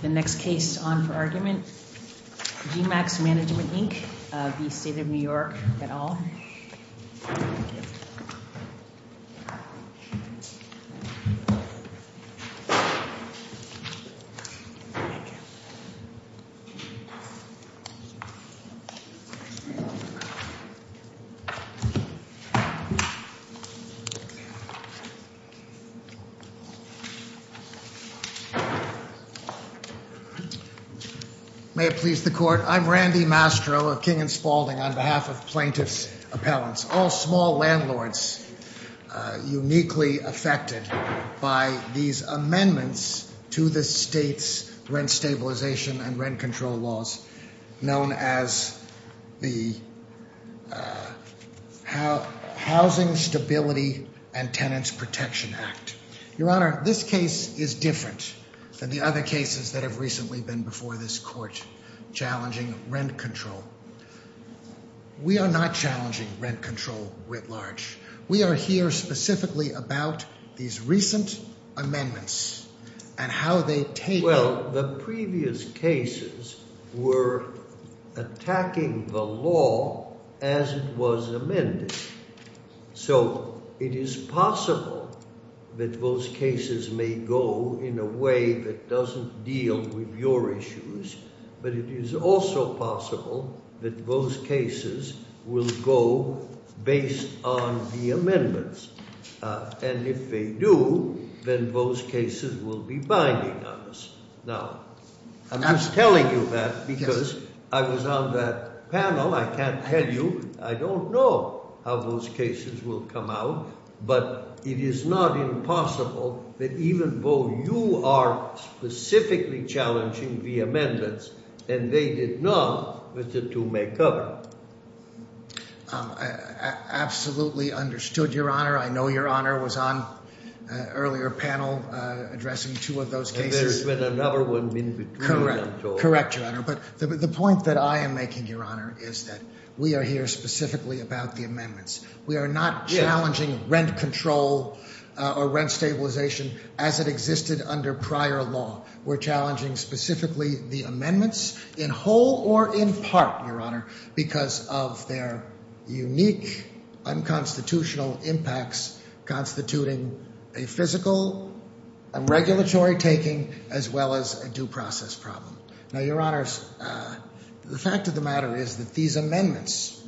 The next case on for argument, G-Max Management, Inc. v. State of New York et al. May it please the Court. I'm Randy Mastro of King & Spaulding on behalf of plaintiff's appellants. All small landlords uniquely affected by these amendments to the state's rent stabilization and rent control laws known as the Housing Stability and Tenants Protection Act. Your Honor, this case is different than the other cases that have recently been before this Court challenging rent control. We are not challenging rent control writ large. We are here specifically about these recent amendments and how they take... Well, the previous cases were attacking the law as it was amended. So it is possible that those cases may go in a way that doesn't deal with your issues. But it is also possible that those cases will go based on the amendments. And if they do, then those cases will be binding on us. Now, I'm just telling you that because I was on that panel. I can't tell you. I don't know how those cases will come out. But it is not impossible that even though you are specifically challenging the amendments and they did not, that the two may cover. Absolutely understood, Your Honor. I know Your Honor was on an earlier panel addressing two of those cases. Correct, Your Honor. But the point that I am making, Your Honor, is that we are here specifically about the amendments. We are not challenging rent control or rent stabilization as it existed under prior law. We're challenging specifically the amendments in whole or in part, Your Honor, because of their unique unconstitutional impacts constituting a physical and regulatory taking as well as a due process problem. Now, Your Honors, the fact of the matter is that these amendments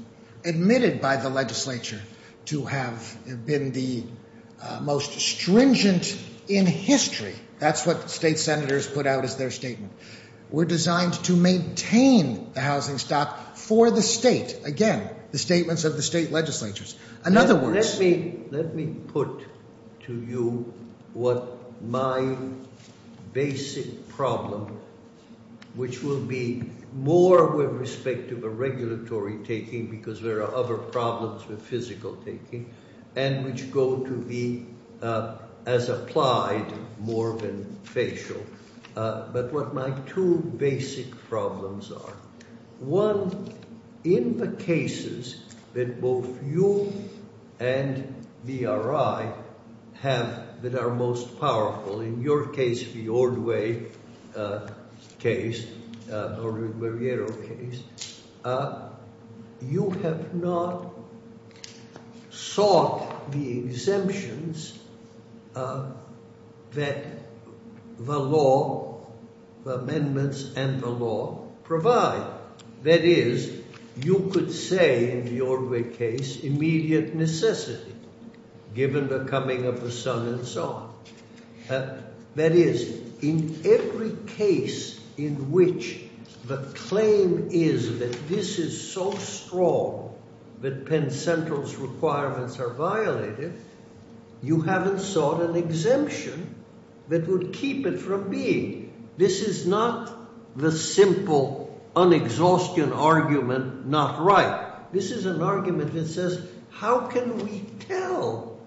admitted by the legislature to have been the most stringent in history. That's what state senators put out as their statement. We're designed to maintain the housing stock for the state. Again, the statements of the state legislatures. In other words- Let me put to you what my basic problem, which will be more with respect to the regulatory taking, because there are other problems with physical taking, and which go to be as applied more than facial. But what my two basic problems are. One, in the cases that both you and VRI have that are most powerful, in your case, the Ordway case, the Ordway-Barriero case, you have not sought the exemptions that the law, the amendments and the law provide. That is, you could say in the Ordway case, immediate necessity, given the coming of the sun and so on. That is, in every case in which the claim is that this is so strong that Penn Central's requirements are violated, you haven't sought an exemption that would keep it from being. This is not the simple, un-exhaustion argument, not right. This is an argument that says, how can we tell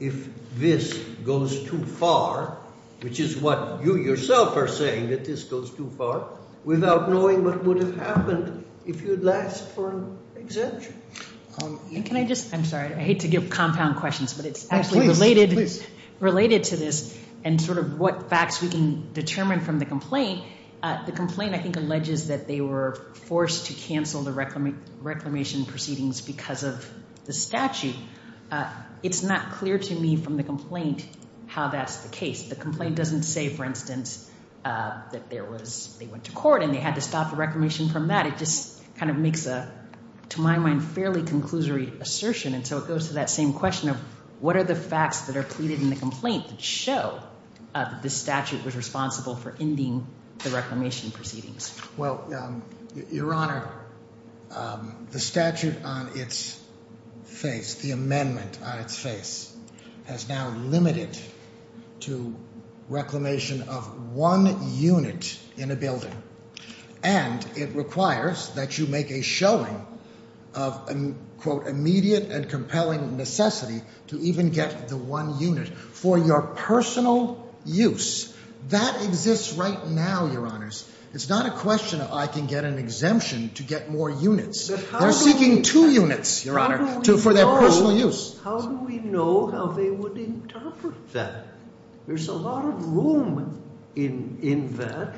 if this goes too far, which is what you yourself are saying, that this goes too far, without knowing what would have happened if you had asked for an exemption? Can I just, I'm sorry, I hate to give compound questions, but it's actually related to this and sort of what facts we can determine from the complaint. The complaint, I think, alleges that they were forced to cancel the reclamation proceedings because of the statute. It's not clear to me from the complaint how that's the case. The complaint doesn't say, for instance, that there was, they went to court and they had to stop the reclamation from that. It just kind of makes a, to my mind, fairly conclusory assertion, and so it goes to that same question of, what are the facts that are pleaded in the complaint that show that the statute was responsible for ending the reclamation proceedings? Well, Your Honor, the statute on its face, the amendment on its face, has now limited to reclamation of one unit in a building. And it requires that you make a showing of, quote, immediate and compelling necessity to even get the one unit for your personal use. That exists right now, Your Honors. It's not a question of I can get an exemption to get more units. They're seeking two units, Your Honor, for their personal use. How do we know how they would interpret that? There's a lot of room in that,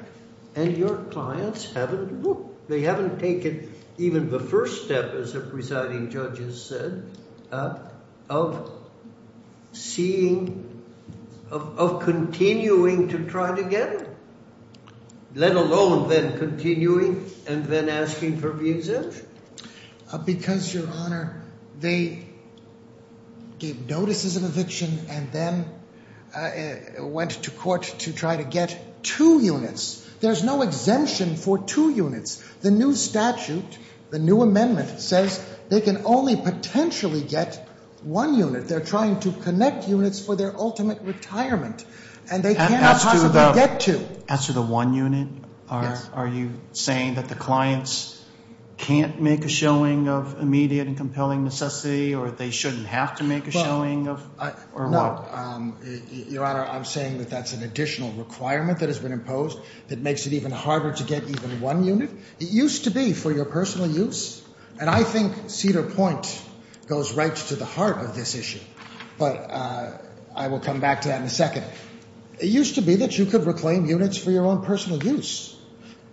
and your clients haven't looked. They haven't taken even the first step, as the presiding judge has said, of seeing, of continuing to try to get it, let alone then continuing and then asking for the exemption. Because, Your Honor, they gave notices of eviction and then went to court to try to get two units. There's no exemption for two units. The new statute, the new amendment says they can only potentially get one unit. They're trying to connect units for their ultimate retirement, and they cannot possibly get two. As to the one unit, are you saying that the clients can't make a showing of immediate and compelling necessity, or they shouldn't have to make a showing of, or what? No. Your Honor, I'm saying that that's an additional requirement that has been imposed that makes it even harder to get even one unit. It used to be for your personal use, and I think Cedar Point goes right to the heart of this issue, but I will come back to that in a second. It used to be that you could reclaim units for your own personal use,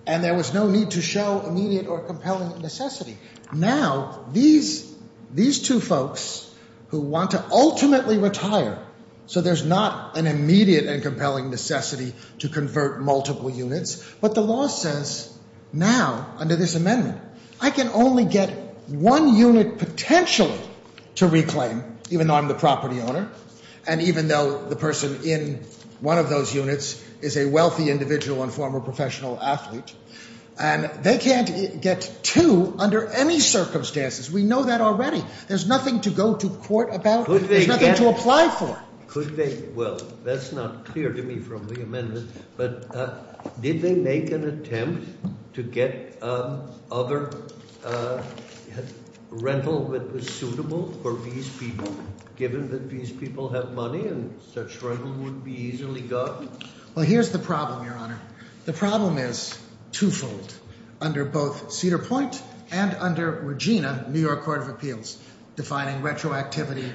and there was no need to show immediate or compelling necessity. Now, these two folks who want to ultimately retire so there's not an immediate and compelling necessity to convert multiple units, but the law says now, under this amendment, I can only get one unit potentially to reclaim, even though I'm the property owner, and even though the person in one of those units is a wealthy individual and former professional athlete, and they can't get two under any circumstances. We know that already. There's nothing to go to court about. There's nothing to apply for. Well, that's not clear to me from the amendment, but did they make an attempt to get other rental that was suitable for these people, given that these people have money and such rental would be easily gotten? Well, here's the problem, Your Honor. The problem is twofold. Under both Cedar Point and under Regina, New York Court of Appeals, defining retroactivity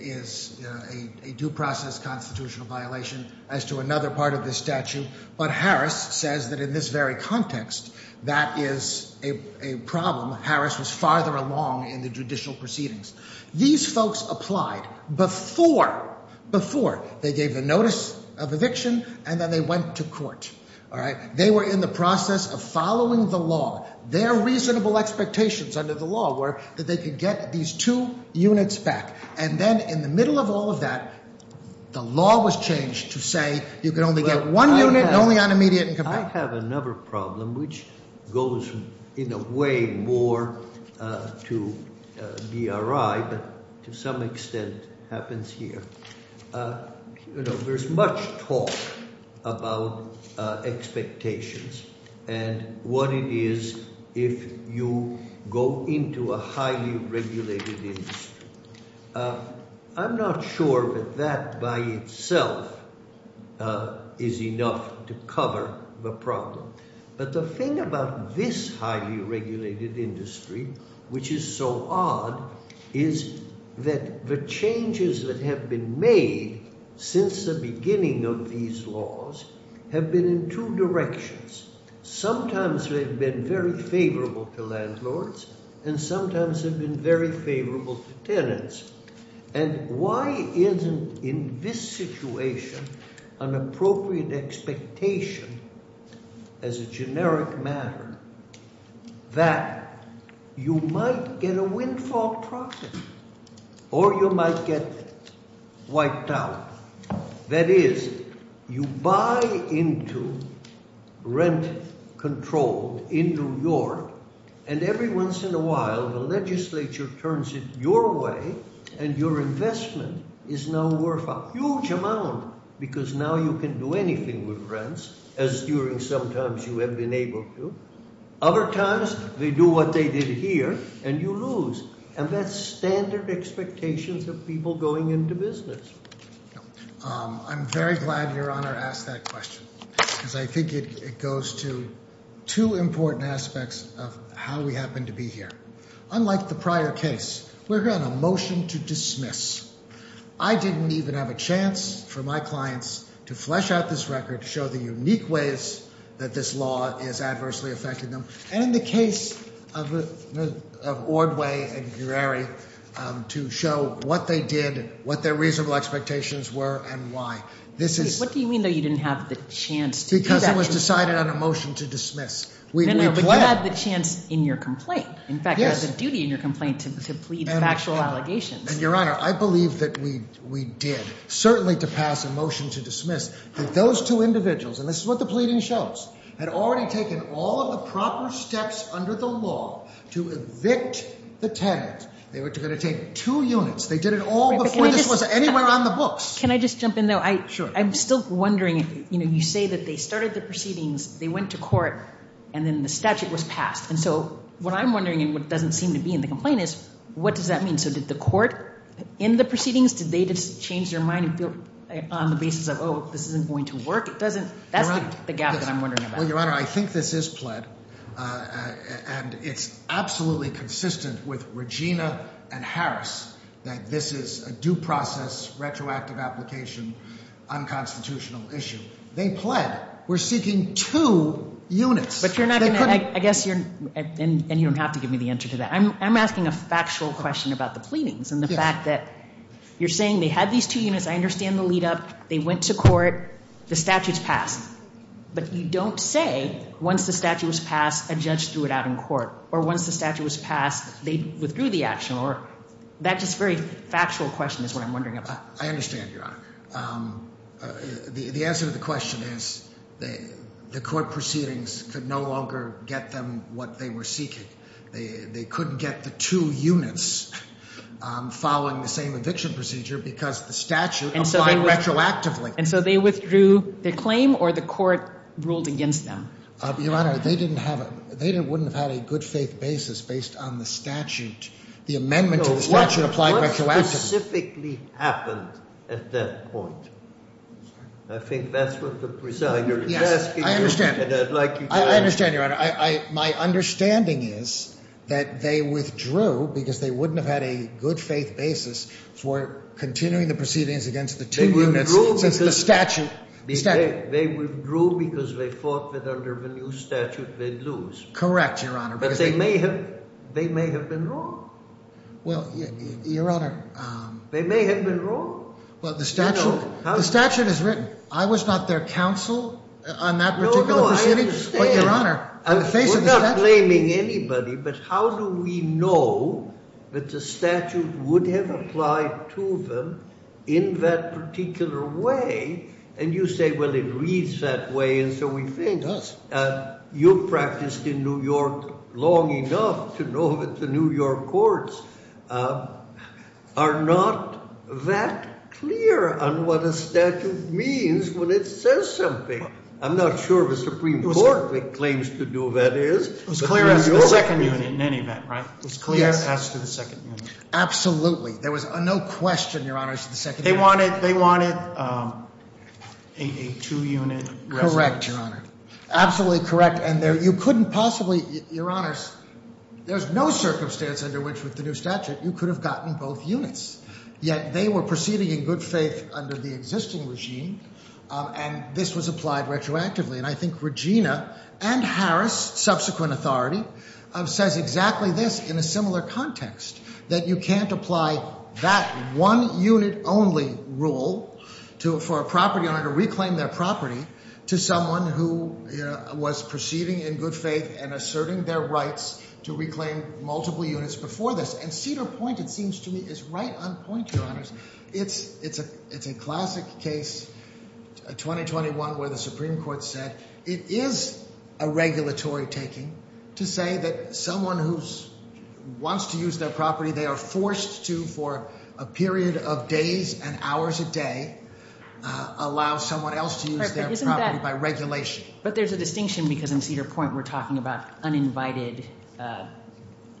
is a due process constitutional violation as to another part of this statute, but Harris says that in this very context, that is a problem. Harris was farther along in the judicial proceedings. These folks applied before, before they gave the notice of eviction and then they went to court. All right? They were in the process of following the law. Their reasonable expectations under the law were that they could get these two units back, and then in the middle of all of that, the law was changed to say you can only get one unit and only on immediate income. I have another problem, which goes in a way more to BRI, but to some extent happens here. You know, there's much talk about expectations and what it is if you go into a highly regulated industry. I'm not sure that that by itself is enough to cover the problem, but the thing about this highly regulated industry, which is so odd, is that the changes that have been made since the beginning of these laws have been in two directions. Sometimes they've been very favorable to landlords, and sometimes they've been very favorable to tenants. And why isn't in this situation an appropriate expectation as a generic matter that you might get a windfall profit or you might get wiped out? That is, you buy into rent control in New York, and every once in a while the legislature turns it your way and your investment is now worth a huge amount because now you can do anything with rents, as during some times you have been able to. Other times they do what they did here and you lose, and that's standard expectations of people going into business. I'm very glad Your Honor asked that question because I think it goes to two important aspects of how we happen to be here. Unlike the prior case, we're here on a motion to dismiss. I didn't even have a chance for my clients to flesh out this record, show the unique ways that this law is adversely affecting them, and in the case of Ordway and Gureri, to show what they did, what their reasonable expectations were, and why. What do you mean, though, you didn't have the chance to do that? Because it was decided on a motion to dismiss. No, no, but you had the chance in your complaint. In fact, you had the duty in your complaint to plead factual allegations. And Your Honor, I believe that we did, certainly to pass a motion to dismiss. Those two individuals, and this is what the pleading shows, had already taken all of the proper steps under the law to evict the tenant. They were going to take two units. They did it all before this was anywhere on the books. Can I just jump in, though? Sure. I'm still wondering, you say that they started the proceedings, they went to court, and then the statute was passed. And so what I'm wondering, and what doesn't seem to be in the complaint, is what does that mean? So did the court end the proceedings? Did they just change their mind on the basis of, oh, this isn't going to work? That's the gap that I'm wondering about. Well, Your Honor, I think this is pled, and it's absolutely consistent with Regina and Harris that this is a due process, retroactive application, unconstitutional issue. They pled. We're seeking two units. But you're not going to, I guess you're, and you don't have to give me the answer to that. I'm asking a factual question about the pleadings and the fact that you're saying they had these two units. I understand the lead up. They went to court. The statute's passed. But you don't say, once the statute was passed, a judge threw it out in court. Or once the statute was passed, they withdrew the action. That just very factual question is what I'm wondering about. I understand, Your Honor. The answer to the question is the court proceedings could no longer get them what they were seeking. They couldn't get the two units following the same eviction procedure because the statute applied retroactively. And so they withdrew their claim, or the court ruled against them? Your Honor, they didn't have a, they wouldn't have had a good faith basis based on the statute, the amendment to the statute applied retroactively. What specifically happened at that point? I think that's what the presiding judge is asking you, and I'd like you to answer. I understand, Your Honor. My understanding is that they withdrew because they wouldn't have had a good faith basis for continuing the proceedings against the two units. Since the statute, the statute. They withdrew because they thought that under the new statute they'd lose. Correct, Your Honor. But they may have, they may have been wrong. Well, Your Honor. They may have been wrong. Well, the statute, the statute is written. I was not their counsel on that particular proceeding. No, no, I understand. We're not blaming anybody, but how do we know that the statute would have applied to them in that particular way? And you say, well, it reads that way, and so we think. It does. You've practiced in New York long enough to know that the New York courts are not that clear on what a statute means when it says something. I'm not sure the Supreme Court claims to do that is. It was clear as to the second unit in any event, right? It was clear as to the second unit. There was no question, Your Honor, as to the second unit. They wanted a two-unit resolution. Correct, Your Honor. Absolutely correct. And you couldn't possibly, Your Honors, there's no circumstance under which with the new statute you could have gotten both units. Yet they were proceeding in good faith under the existing regime, and this was applied retroactively. And I think Regina and Harris, subsequent authority, says exactly this in a similar context. That you can't apply that one-unit-only rule for a property owner to reclaim their property to someone who was proceeding in good faith and asserting their rights to reclaim multiple units before this. And Cedar Point, it seems to me, is right on point, Your Honors. It's a classic case, 2021, where the Supreme Court said it is a regulatory taking to say that someone who wants to use their property, they are forced to for a period of days and hours a day allow someone else to use their property by regulation. But there's a distinction, because in Cedar Point we're talking about uninvited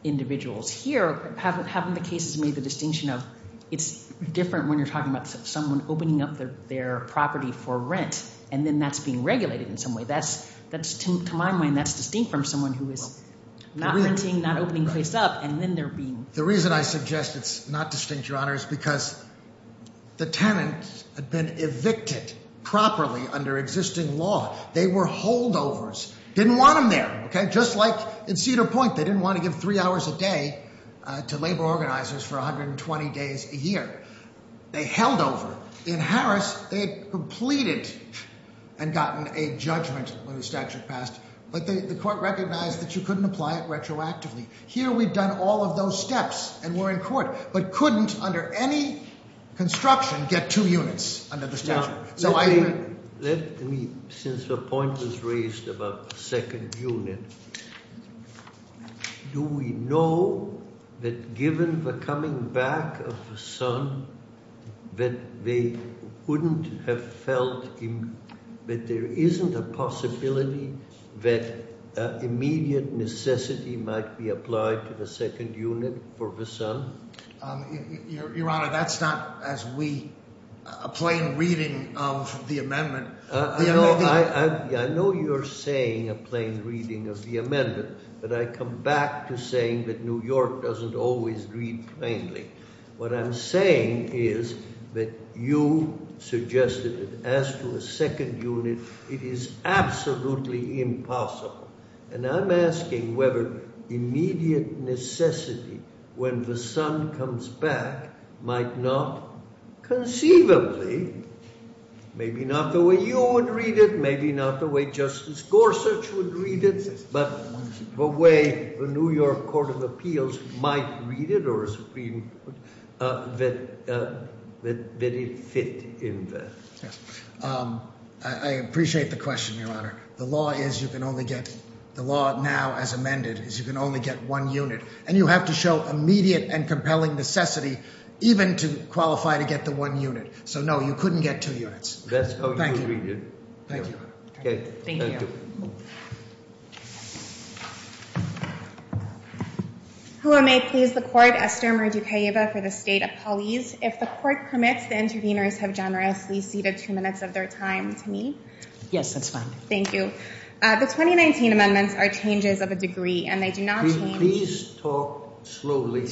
individuals. Here, haven't the cases made the distinction of it's different when you're talking about someone opening up their property for rent, and then that's being regulated in some way? That's, to my mind, that's distinct from someone who is not renting, not opening a place up, and then they're being- Didn't want them there, okay? Just like in Cedar Point, they didn't want to give three hours a day to labor organizers for 120 days a year. They held over. In Harris, they had completed and gotten a judgment when the statute passed, but the court recognized that you couldn't apply it retroactively. Here, we've done all of those steps and we're in court, but couldn't, under any construction, get two units under the statute. Let me, since the point was raised about the second unit, do we know that given the coming back of the son, that they wouldn't have felt that there isn't a possibility that immediate necessity might be applied to the second unit for the son? Your Honor, that's not, as we, a plain reading of the amendment. I know you're saying a plain reading of the amendment, but I come back to saying that New York doesn't always read plainly. What I'm saying is that you suggested that as to a second unit, it is absolutely impossible. And I'm asking whether immediate necessity when the son comes back might not conceivably, maybe not the way you would read it, maybe not the way Justice Gorsuch would read it, but the way the New York Court of Appeals might read it or Supreme Court, that it fit in there. The law is you can only get, the law now as amended, is you can only get one unit. And you have to show immediate and compelling necessity even to qualify to get the one unit. So, no, you couldn't get two units. That's how you read it. Thank you. Okay. Thank you. Thank you. Who may please the court? Esther Merdukayeva for the State Appellees. If the court permits, the interveners have generously ceded two minutes of their time to me. Yes, that's fine. Thank you. The 2019 amendments are changes of a degree, and they do not change. Please talk slowly.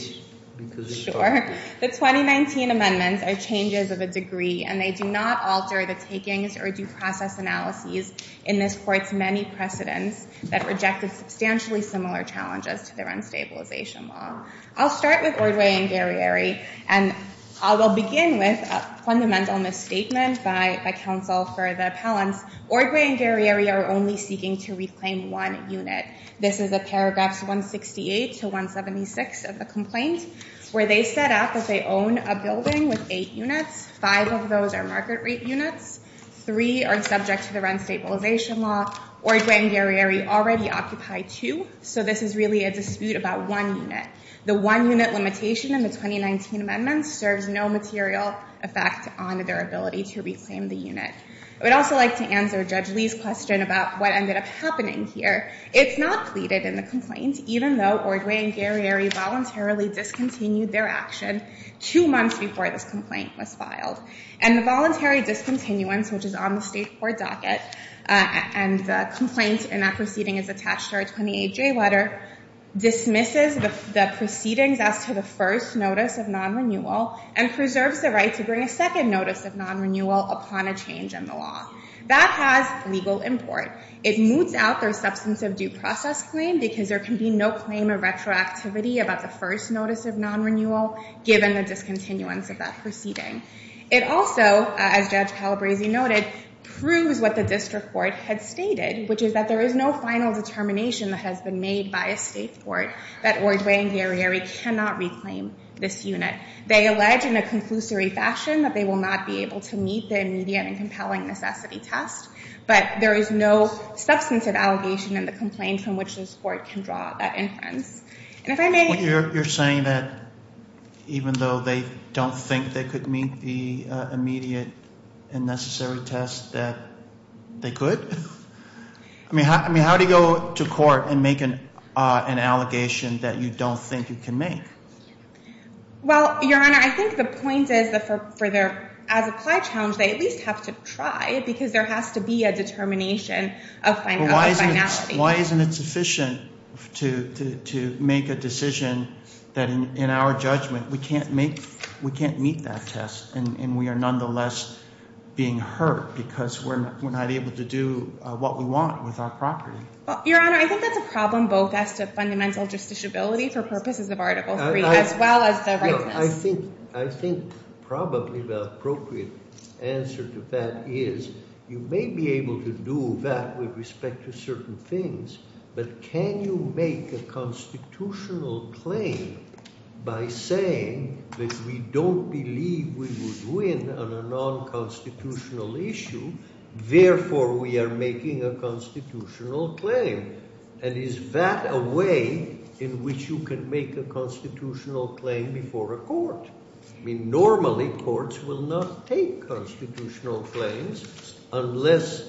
Sure. The 2019 amendments are changes of a degree, and they do not alter the takings or due process analyses in this court's many precedents that rejected substantially similar challenges to their unstabilization law. I'll start with Ordway and Garrieri, and I will begin with a fundamental misstatement by counsel for the appellants. Ordway and Garrieri are only seeking to reclaim one unit. This is the paragraphs 168 to 176 of the complaint, where they set out that they own a building with eight units. Five of those are market rate units. Three are subject to the rent stabilization law. Ordway and Garrieri already occupy two, so this is really a dispute about one unit. The one unit limitation in the 2019 amendments serves no material effect on their ability to reclaim the unit. I would also like to answer Judge Lee's question about what ended up happening here. It's not pleaded in the complaint, even though Ordway and Garrieri voluntarily discontinued their action two months before this complaint was filed. And the voluntary discontinuance, which is on the state court docket, and the complaint in that proceeding is attached to our 28J letter, dismisses the proceedings as to the first notice of non-renewal and preserves the right to bring a second notice of non-renewal upon a change in the law. That has legal import. It moots out their substance of due process claim, because there can be no claim of retroactivity about the first notice of non-renewal, given the discontinuance of that proceeding. It also, as Judge Calabresi noted, proves what the district court had stated, which is that there is no final determination that has been made by a state court that Ordway and Garrieri cannot reclaim this unit. They allege in a conclusory fashion that they will not be able to meet the immediate and compelling necessity test, but there is no substantive allegation in the complaint from which this court can draw that inference. And if I may? You're saying that even though they don't think they could meet the immediate and necessary test, that they could? I mean, how do you go to court and make an allegation that you don't think you can make? Well, Your Honor, I think the point is that as applied challenge, they at least have to try because there has to be a determination of finality. Why isn't it sufficient to make a decision that in our judgment we can't meet that test and we are nonetheless being hurt because we're not able to do what we want with our property? Your Honor, I think that's a problem both as to fundamental justiciability for purposes of Article III as well as the rightness. I think probably the appropriate answer to that is you may be able to do that with respect to certain things, but can you make a constitutional claim by saying that we don't believe we would win on a non-constitutional issue, therefore we are making a constitutional claim? And is that a way in which you can make a constitutional claim before a court? I mean, normally courts will not take constitutional claims unless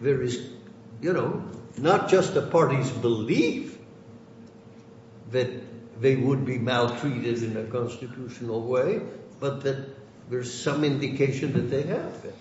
there is, you know, not just a party's belief that they would be maltreated in a constitutional way, but that there's some indication that they have been.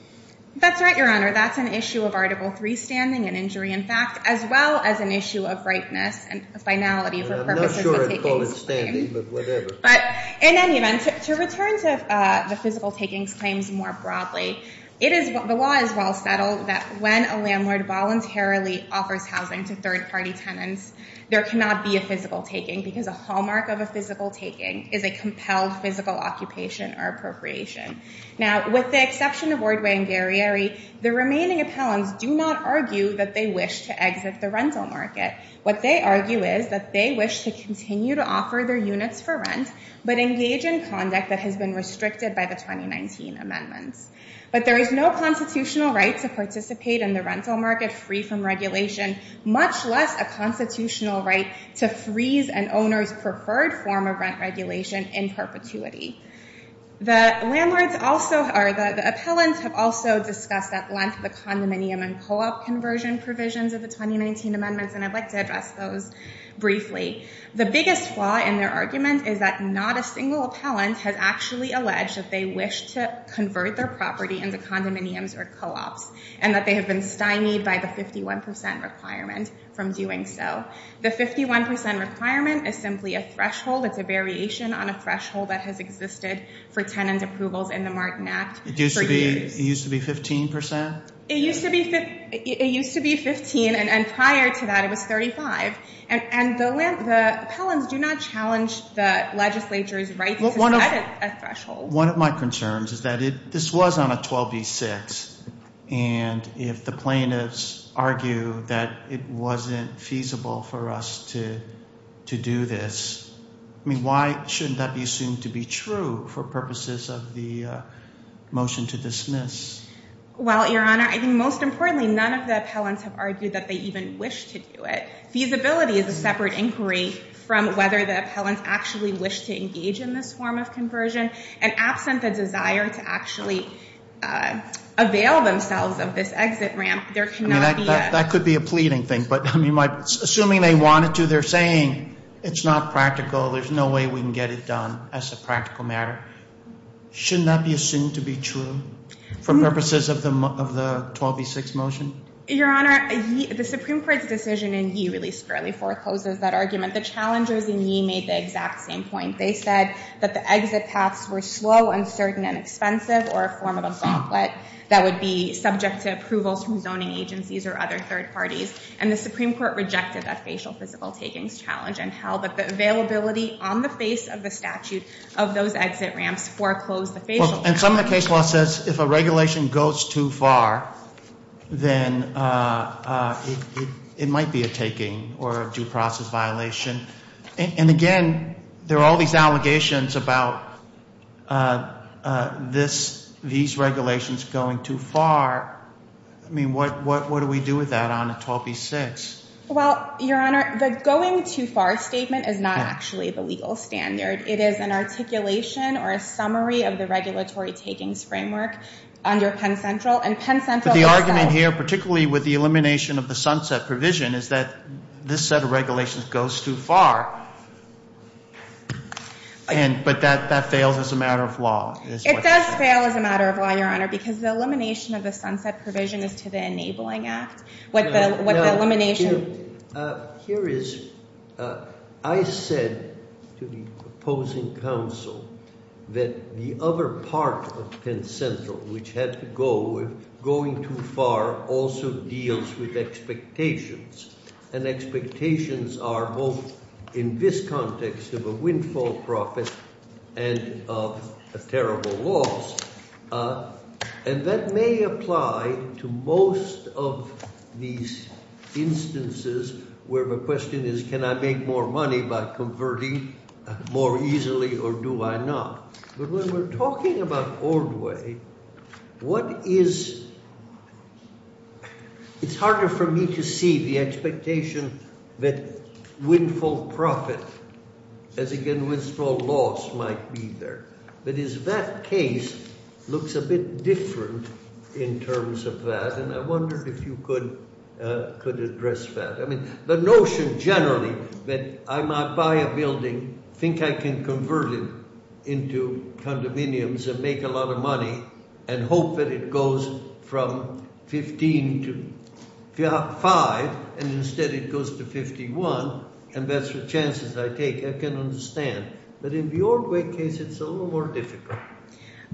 That's right, Your Honor. That's an issue of Article III standing and injury in fact as well as an issue of rightness and finality for purposes of a taking claim. I'm not sure I'd call it standing, but whatever. But in any event, to return to the physical takings claims more broadly, the law is well settled that when a landlord voluntarily offers housing to third-party tenants, there cannot be a physical taking because a hallmark of a physical taking is a compelled physical occupation or appropriation. Now, with the exception of Wardway and Garrieri, the remaining appellants do not argue that they wish to exit the rental market. What they argue is that they wish to continue to offer their units for rent, but engage in conduct that has been restricted by the 2019 amendments. But there is no constitutional right to participate in the rental market free from regulation, much less a constitutional right to freeze an owner's preferred form of rent regulation in perpetuity. The appellants have also discussed at length the condominium and co-op conversion provisions of the 2019 amendments, and I'd like to address those briefly. The biggest flaw in their argument is that not a single appellant has actually alleged that they wish to convert their property into condominiums or co-ops and that they have been stymied by the 51 percent requirement from doing so. The 51 percent requirement is simply a threshold. It's a variation on a threshold that has existed for tenant approvals in the Martin Act for years. It used to be 15 percent? It used to be 15, and prior to that it was 35. And the appellants do not challenge the legislature's right to set a threshold. One of my concerns is that this was on a 12b-6, and if the plaintiffs argue that it wasn't feasible for us to do this, I mean, why shouldn't that be assumed to be true for purposes of the motion to dismiss? Well, Your Honor, I think most importantly, none of the appellants have argued that they even wish to do it. Feasibility is a separate inquiry from whether the appellants actually wish to engage in this form of conversion, and absent the desire to actually avail themselves of this exit ramp, there cannot be a- I mean, that could be a pleading thing, but, I mean, assuming they wanted to, they're saying it's not practical, there's no way we can get it done as a practical matter. Shouldn't that be assumed to be true for purposes of the 12b-6 motion? Your Honor, the Supreme Court's decision in Yee really squarely forecloses that argument. The challengers in Yee made the exact same point. They said that the exit paths were slow, uncertain, and expensive, or a form of a gauntlet that would be subject to approvals from zoning agencies or other third parties, and the Supreme Court rejected that facial physical takings challenge and held that the availability on the face of the statute of those exit ramps foreclosed the facial- Well, and some of the case law says if a regulation goes too far, then it might be a taking or a due process violation. And, again, there are all these allegations about these regulations going too far. I mean, what do we do with that on a 12b-6? Well, Your Honor, the going too far statement is not actually the legal standard. It is an articulation or a summary of the regulatory takings framework under Penn Central, and Penn Central has said- But the argument here, particularly with the elimination of the sunset provision, is that this set of regulations goes too far, but that fails as a matter of law. It does fail as a matter of law, Your Honor, because the elimination of the sunset provision is to the enabling act. What the elimination- Here is- I said to the opposing counsel that the other part of Penn Central, which had to go with going too far also deals with expectations, and expectations are both in this context of a windfall profit and of a terrible loss, and that may apply to most of these instances where the question is, can I make more money by converting more easily or do I not? But when we're talking about old way, what is- It's harder for me to see the expectation that windfall profit, as again, windfall loss might be there. That is, that case looks a bit different in terms of that, and I wondered if you could address that. The notion generally that I might buy a building, think I can convert it into condominiums and make a lot of money, and hope that it goes from 15 to 5, and instead it goes to 51, and that's the chances I take. I can understand, but in the old way case, it's a little more difficult.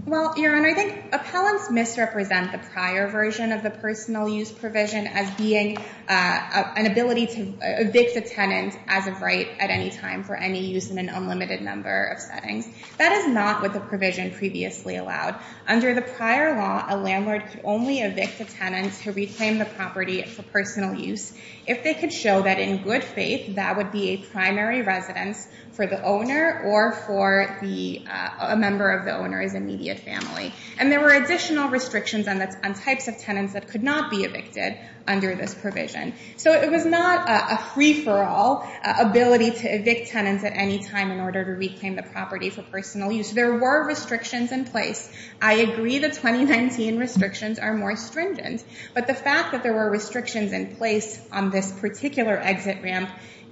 Well, Your Honor, I think appellants misrepresent the prior version of the personal use provision as being an ability to evict a tenant as of right at any time for any use in an unlimited number of settings. That is not what the provision previously allowed. Under the prior law, a landlord could only evict a tenant to reclaim the property for personal use if they could show that in good faith that would be a primary residence for the owner or for a member of the owner's immediate family. And there were additional restrictions on types of tenants that could not be evicted under this provision. So it was not a free-for-all ability to evict tenants at any time in order to reclaim the property for personal use. There were restrictions in place. I agree the 2019 restrictions are more stringent, but the fact that there were restrictions in place on this particular exit ramp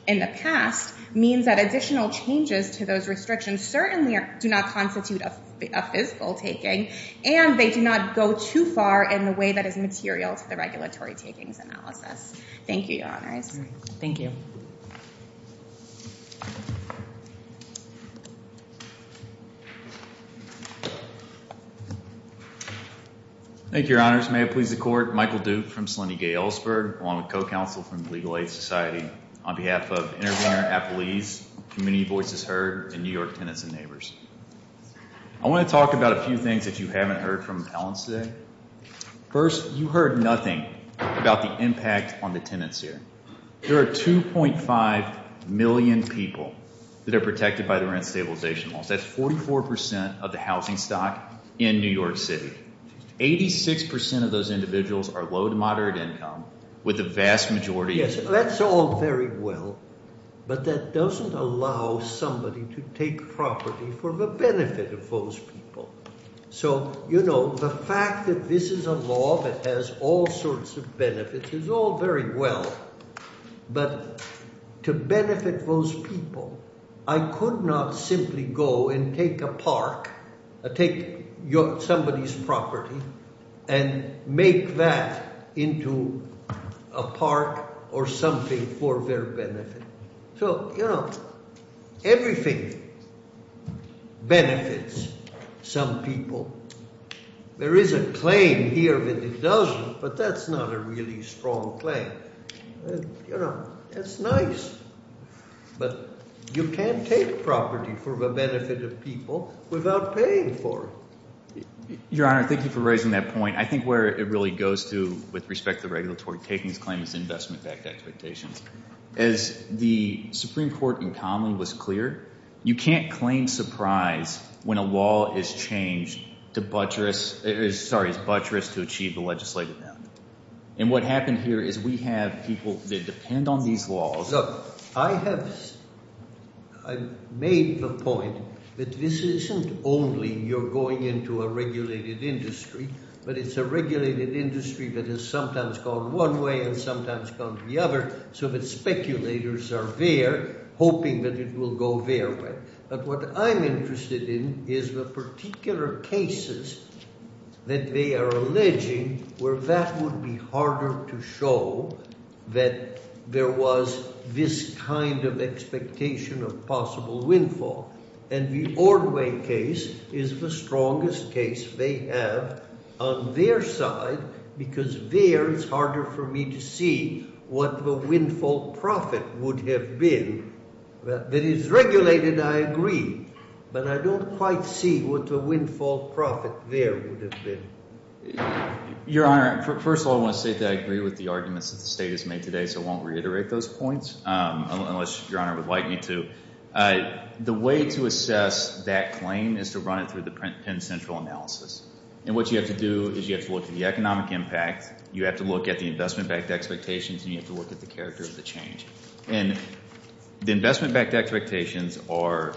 in the past means that additional changes to those restrictions certainly do not constitute a physical taking, and they do not go too far in the way that is material to the regulatory takings analysis. Thank you, Your Honors. Thank you. Thank you, Your Honors. May it please the Court. Michael Duke from Selene Gay Ellsberg, along with co-counsel from the Legal Aid Society, on behalf of Intervenor Appelese, Community Voices Heard, and New York Tenants and Neighbors. I want to talk about a few things that you haven't heard from Alan today. First, you heard nothing about the impact on the tenants here. There are 2.5 million people that are protected by the rent stabilization laws. That's 44% of the housing stock in New York City. 86% of those individuals are low to moderate income, with the vast majority— Yes, that's all very well, but that doesn't allow somebody to take property for the benefit of those people. So, you know, the fact that this is a law that has all sorts of benefits is all very well, but to benefit those people, I could not simply go and take a park, take somebody's property, and make that into a park or something for their benefit. So, you know, everything benefits some people. There is a claim here that it doesn't, but that's not a really strong claim. You know, that's nice, but you can't take property for the benefit of people without paying for it. Your Honor, thank you for raising that point. I think where it really goes to with respect to regulatory takings claim is investment-backed expectations. As the Supreme Court in common was clear, you can't claim surprise when a law is changed to buttress— sorry, is buttress to achieve the legislative end. And what happened here is we have people that depend on these laws— Look, I have made the point that this isn't only you're going into a regulated industry, but it's a regulated industry that has sometimes gone one way and sometimes gone the other. So the speculators are there hoping that it will go their way. But what I'm interested in is the particular cases that they are alleging where that would be harder to show that there was this kind of expectation of possible windfall. And the Ordway case is the strongest case they have on their side because there it's harder for me to see what the windfall profit would have been. That it is regulated, I agree, but I don't quite see what the windfall profit there would have been. Your Honor, first of all, I want to say that I agree with the arguments that the State has made today, so I won't reiterate those points unless Your Honor would like me to. The way to assess that claim is to run it through the Penn Central analysis. And what you have to do is you have to look at the economic impact, you have to look at the investment-backed expectations, and you have to look at the character of the change. And the investment-backed expectations are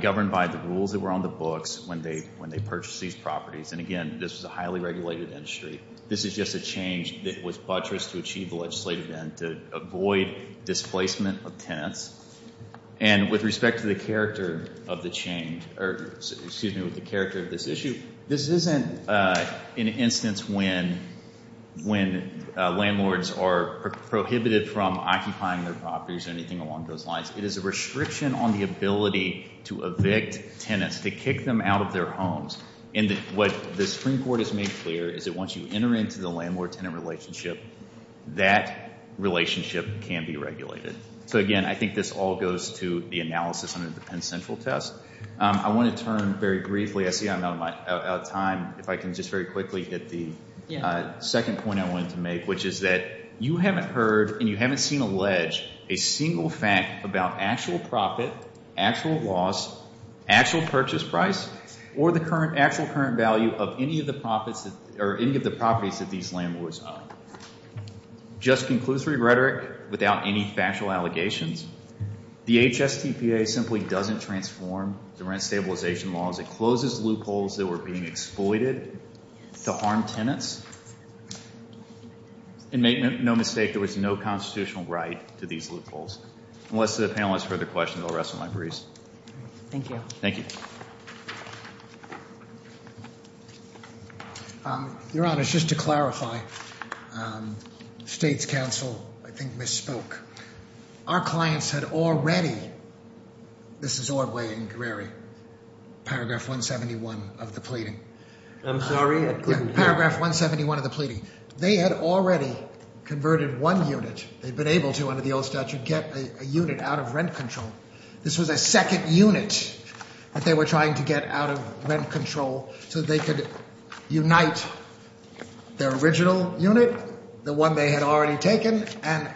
governed by the rules that were on the books when they purchased these properties. And again, this is a highly regulated industry. This is just a change that was buttressed to achieve the legislative end to avoid displacement of tenants. And with respect to the character of the change, or excuse me, with the character of this issue, this isn't an instance when landlords are prohibited from occupying their properties or anything along those lines. It is a restriction on the ability to evict tenants, to kick them out of their homes. And what the Supreme Court has made clear is that once you enter into the landlord-tenant relationship, that relationship can be regulated. So again, I think this all goes to the analysis under the Penn Central test. I want to turn very briefly. I see I'm out of time. If I can just very quickly hit the second point I wanted to make, which is that you haven't heard and you haven't seen alleged a single fact about actual profit, actual loss, actual purchase price, or the actual current value of any of the properties that these landlords own. Just conclusory rhetoric, without any factual allegations, the HSTPA simply doesn't transform the rent stabilization laws. It closes loopholes that were being exploited to harm tenants. And make no mistake, there was no constitutional right to these loopholes. Unless the panel has further questions, I'll rest my briefs. Thank you. Thank you. Your Honor, just to clarify, State's counsel, I think, misspoke. Our clients had already, this is Ordway and Greary, paragraph 171 of the pleading. I'm sorry, I couldn't hear. Paragraph 171 of the pleading. They had already converted one unit. They'd been able to under the old statute get a unit out of rent control. This was a second unit that they were trying to get out of rent control so they could unite their original unit, the one they had already taken, and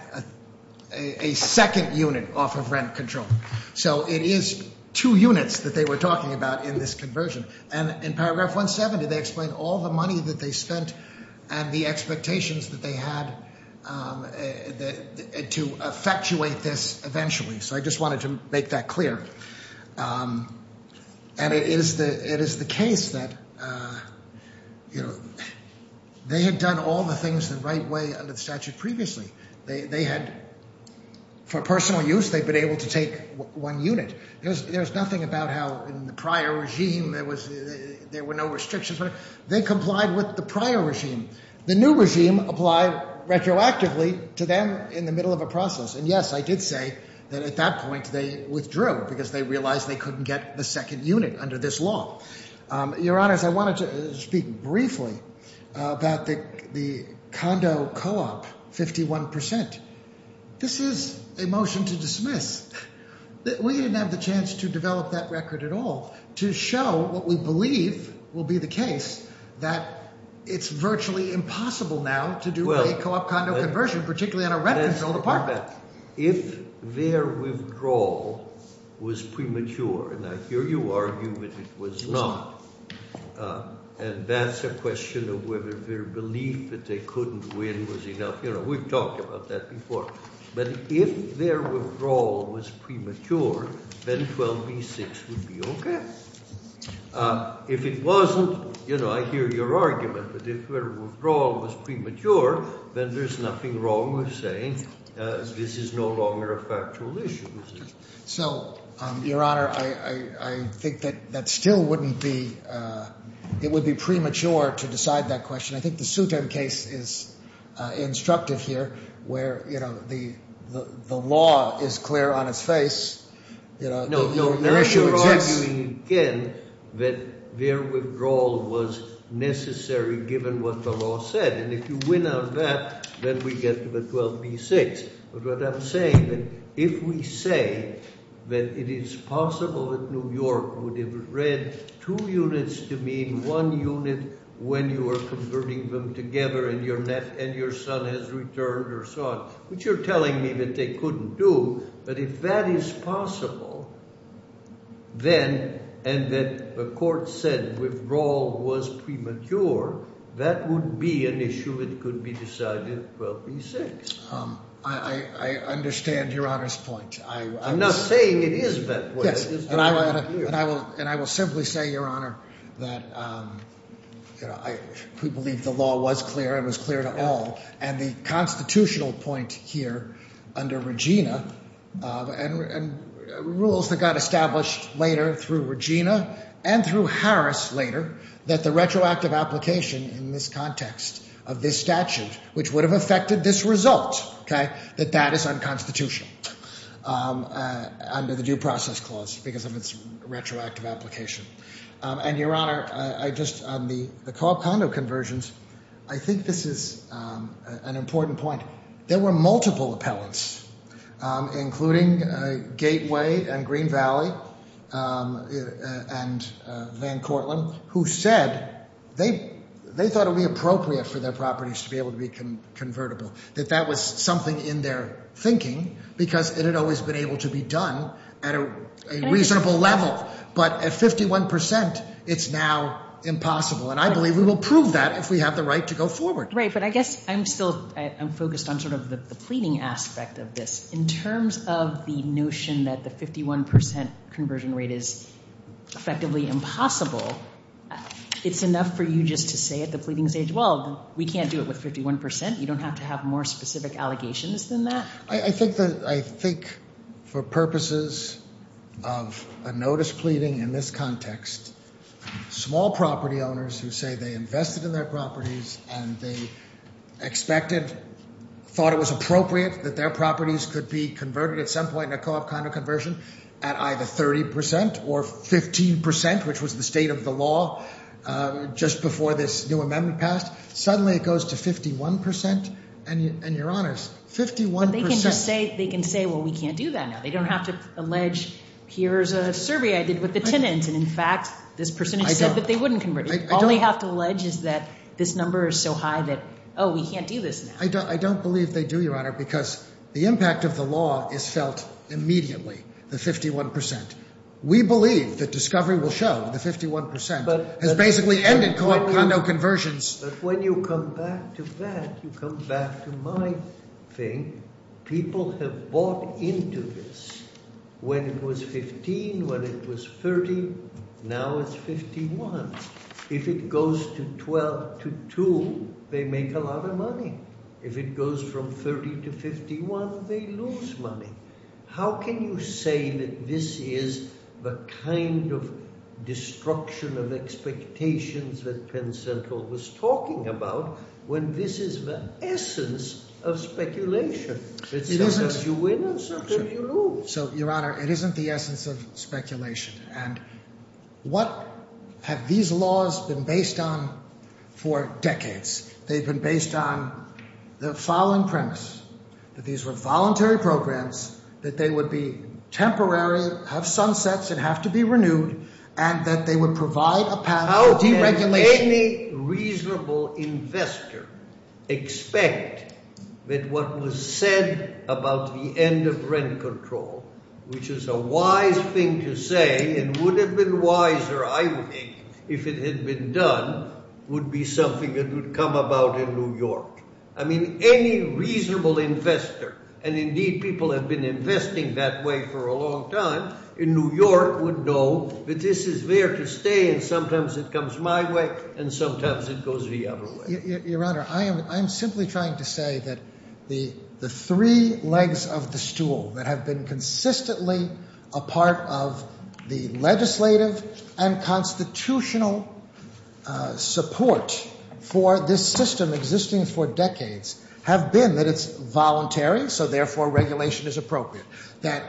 a second unit off of rent control. So it is two units that they were talking about in this conversion. And in paragraph 170, they explain all the money that they spent and the expectations that they had to effectuate this eventually. So I just wanted to make that clear. And it is the case that they had done all the things the right way under the statute previously. They had, for personal use, they'd been able to take one unit. There's nothing about how in the prior regime there were no restrictions. They complied with the prior regime. The new regime applied retroactively to them in the middle of a process. And, yes, I did say that at that point they withdrew because they realized they couldn't get the second unit under this law. Your Honors, I wanted to speak briefly about the condo co-op 51%. This is a motion to dismiss. We didn't have the chance to develop that record at all to show what we believe will be the case, that it's virtually impossible now to do a co-op condo conversion, particularly on a rent-controlled apartment. If their withdrawal was premature, and I hear you argue that it was not, and that's a question of whether their belief that they couldn't win was enough. You know, we've talked about that before. But if their withdrawal was premature, then 12b-6 would be okay. If it wasn't, you know, I hear your argument, but if their withdrawal was premature, then there's nothing wrong with saying this is no longer a factual issue. So, Your Honor, I think that that still wouldn't be, it would be premature to decide that question. I think the Sutem case is instructive here where, you know, the law is clear on its face, you know, the issue exists. I'm arguing again that their withdrawal was necessary given what the law said. And if you win on that, then we get to the 12b-6. But what I'm saying, if we say that it is possible that New York would have read two units to mean one unit when you were converting them together and your son has returned or so on, which you're telling me that they couldn't do, but if that is possible, then, and that the court said withdrawal was premature, that would be an issue that could be decided at 12b-6. I understand Your Honor's point. I'm not saying it is that way. Yes, and I will simply say, Your Honor, that, you know, we believe the law was clear and was clear to all. And the constitutional point here under Regina, and rules that got established later through Regina and through Harris later, that the retroactive application in this context of this statute, which would have affected this result, okay, that that is unconstitutional under the Due Process Clause because of its retroactive application. And, Your Honor, I just, on the Cobb condo conversions, I think this is an important point. There were multiple appellants, including Gateway and Green Valley and Van Cortland, who said they thought it would be appropriate for their properties to be able to be convertible, that that was something in their thinking because it had always been able to be done at a reasonable level. But at 51 percent, it's now impossible. And I believe we will prove that if we have the right to go forward. Right, but I guess I'm still focused on sort of the pleading aspect of this. In terms of the notion that the 51 percent conversion rate is effectively impossible, it's enough for you just to say at the pleading stage, well, we can't do it with 51 percent. You don't have to have more specific allegations than that. I think for purposes of a notice pleading in this context, small property owners who say they invested in their properties and they expected, thought it was appropriate that their properties could be converted at some point in a co-op condo conversion at either 30 percent or 15 percent, which was the state of the law just before this new amendment passed. Suddenly it goes to 51 percent. And you're honest, 51 percent. They can say, well, we can't do that now. They don't have to allege, here's a survey I did with the tenants, and in fact this person has said that they wouldn't convert. All they have to allege is that this number is so high that, oh, we can't do this now. I don't believe they do, Your Honor, because the impact of the law is felt immediately, the 51 percent. We believe that discovery will show the 51 percent has basically ended co-op condo conversions. But when you come back to that, you come back to my thing. People have bought into this. When it was 15, when it was 30, now it's 51. If it goes to 12 to 2, they make a lot of money. If it goes from 30 to 51, they lose money. How can you say that this is the kind of destruction of expectations that Penn Central was talking about when this is the essence of speculation? It's sometimes you win and sometimes you lose. So, Your Honor, it isn't the essence of speculation. And what have these laws been based on for decades? They've been based on the following premise, that these were voluntary programs, that they would be temporary, have sunsets and have to be renewed, and that they would provide a path of deregulation. How can any reasonable investor expect that what was said about the end of rent control, which is a wise thing to say and would have been wiser, I think, if it had been done, would be something that would come about in New York? I mean, any reasonable investor, and indeed people have been investing that way for a long time in New York, would know that this is there to stay and sometimes it comes my way and sometimes it goes the other way. Your Honor, I am simply trying to say that the three legs of the stool that have been consistently a part of the legislative and constitutional support for this system existing for decades have been that it's voluntary, so therefore regulation is appropriate, that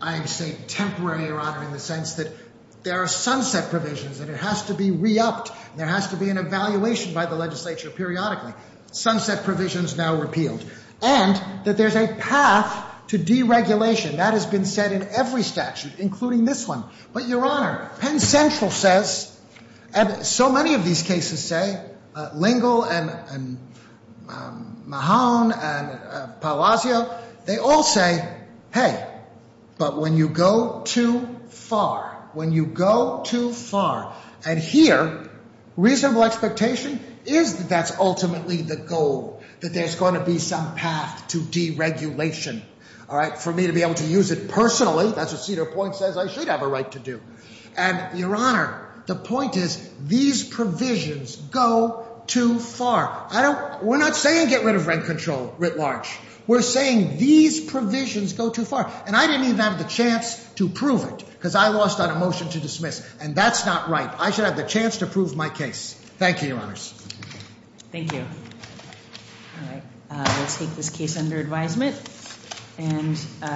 I am saying temporary, Your Honor, in the sense that there are sunset provisions and it has to be re-upped and there has to be an evaluation by the legislature periodically, sunset provisions now repealed, and that there's a path to deregulation. That has been said in every statute, including this one. But, Your Honor, Penn Central says, and so many of these cases say, Lingle and Mahon and Palazzo, they all say, hey, but when you go too far, when you go too far, and here, reasonable expectation is that that's ultimately the goal, that there's going to be some path to deregulation. For me to be able to use it personally, that's what Cedar Point says I should have a right to do. And, Your Honor, the point is these provisions go too far. We're not saying get rid of rent control, writ large. We're saying these provisions go too far, and I didn't even have the chance to prove it because I lost on a motion to dismiss, and that's not right. I should have the chance to prove my case. Thank you, Your Honors. Thank you. All right. We'll take this case under advisement.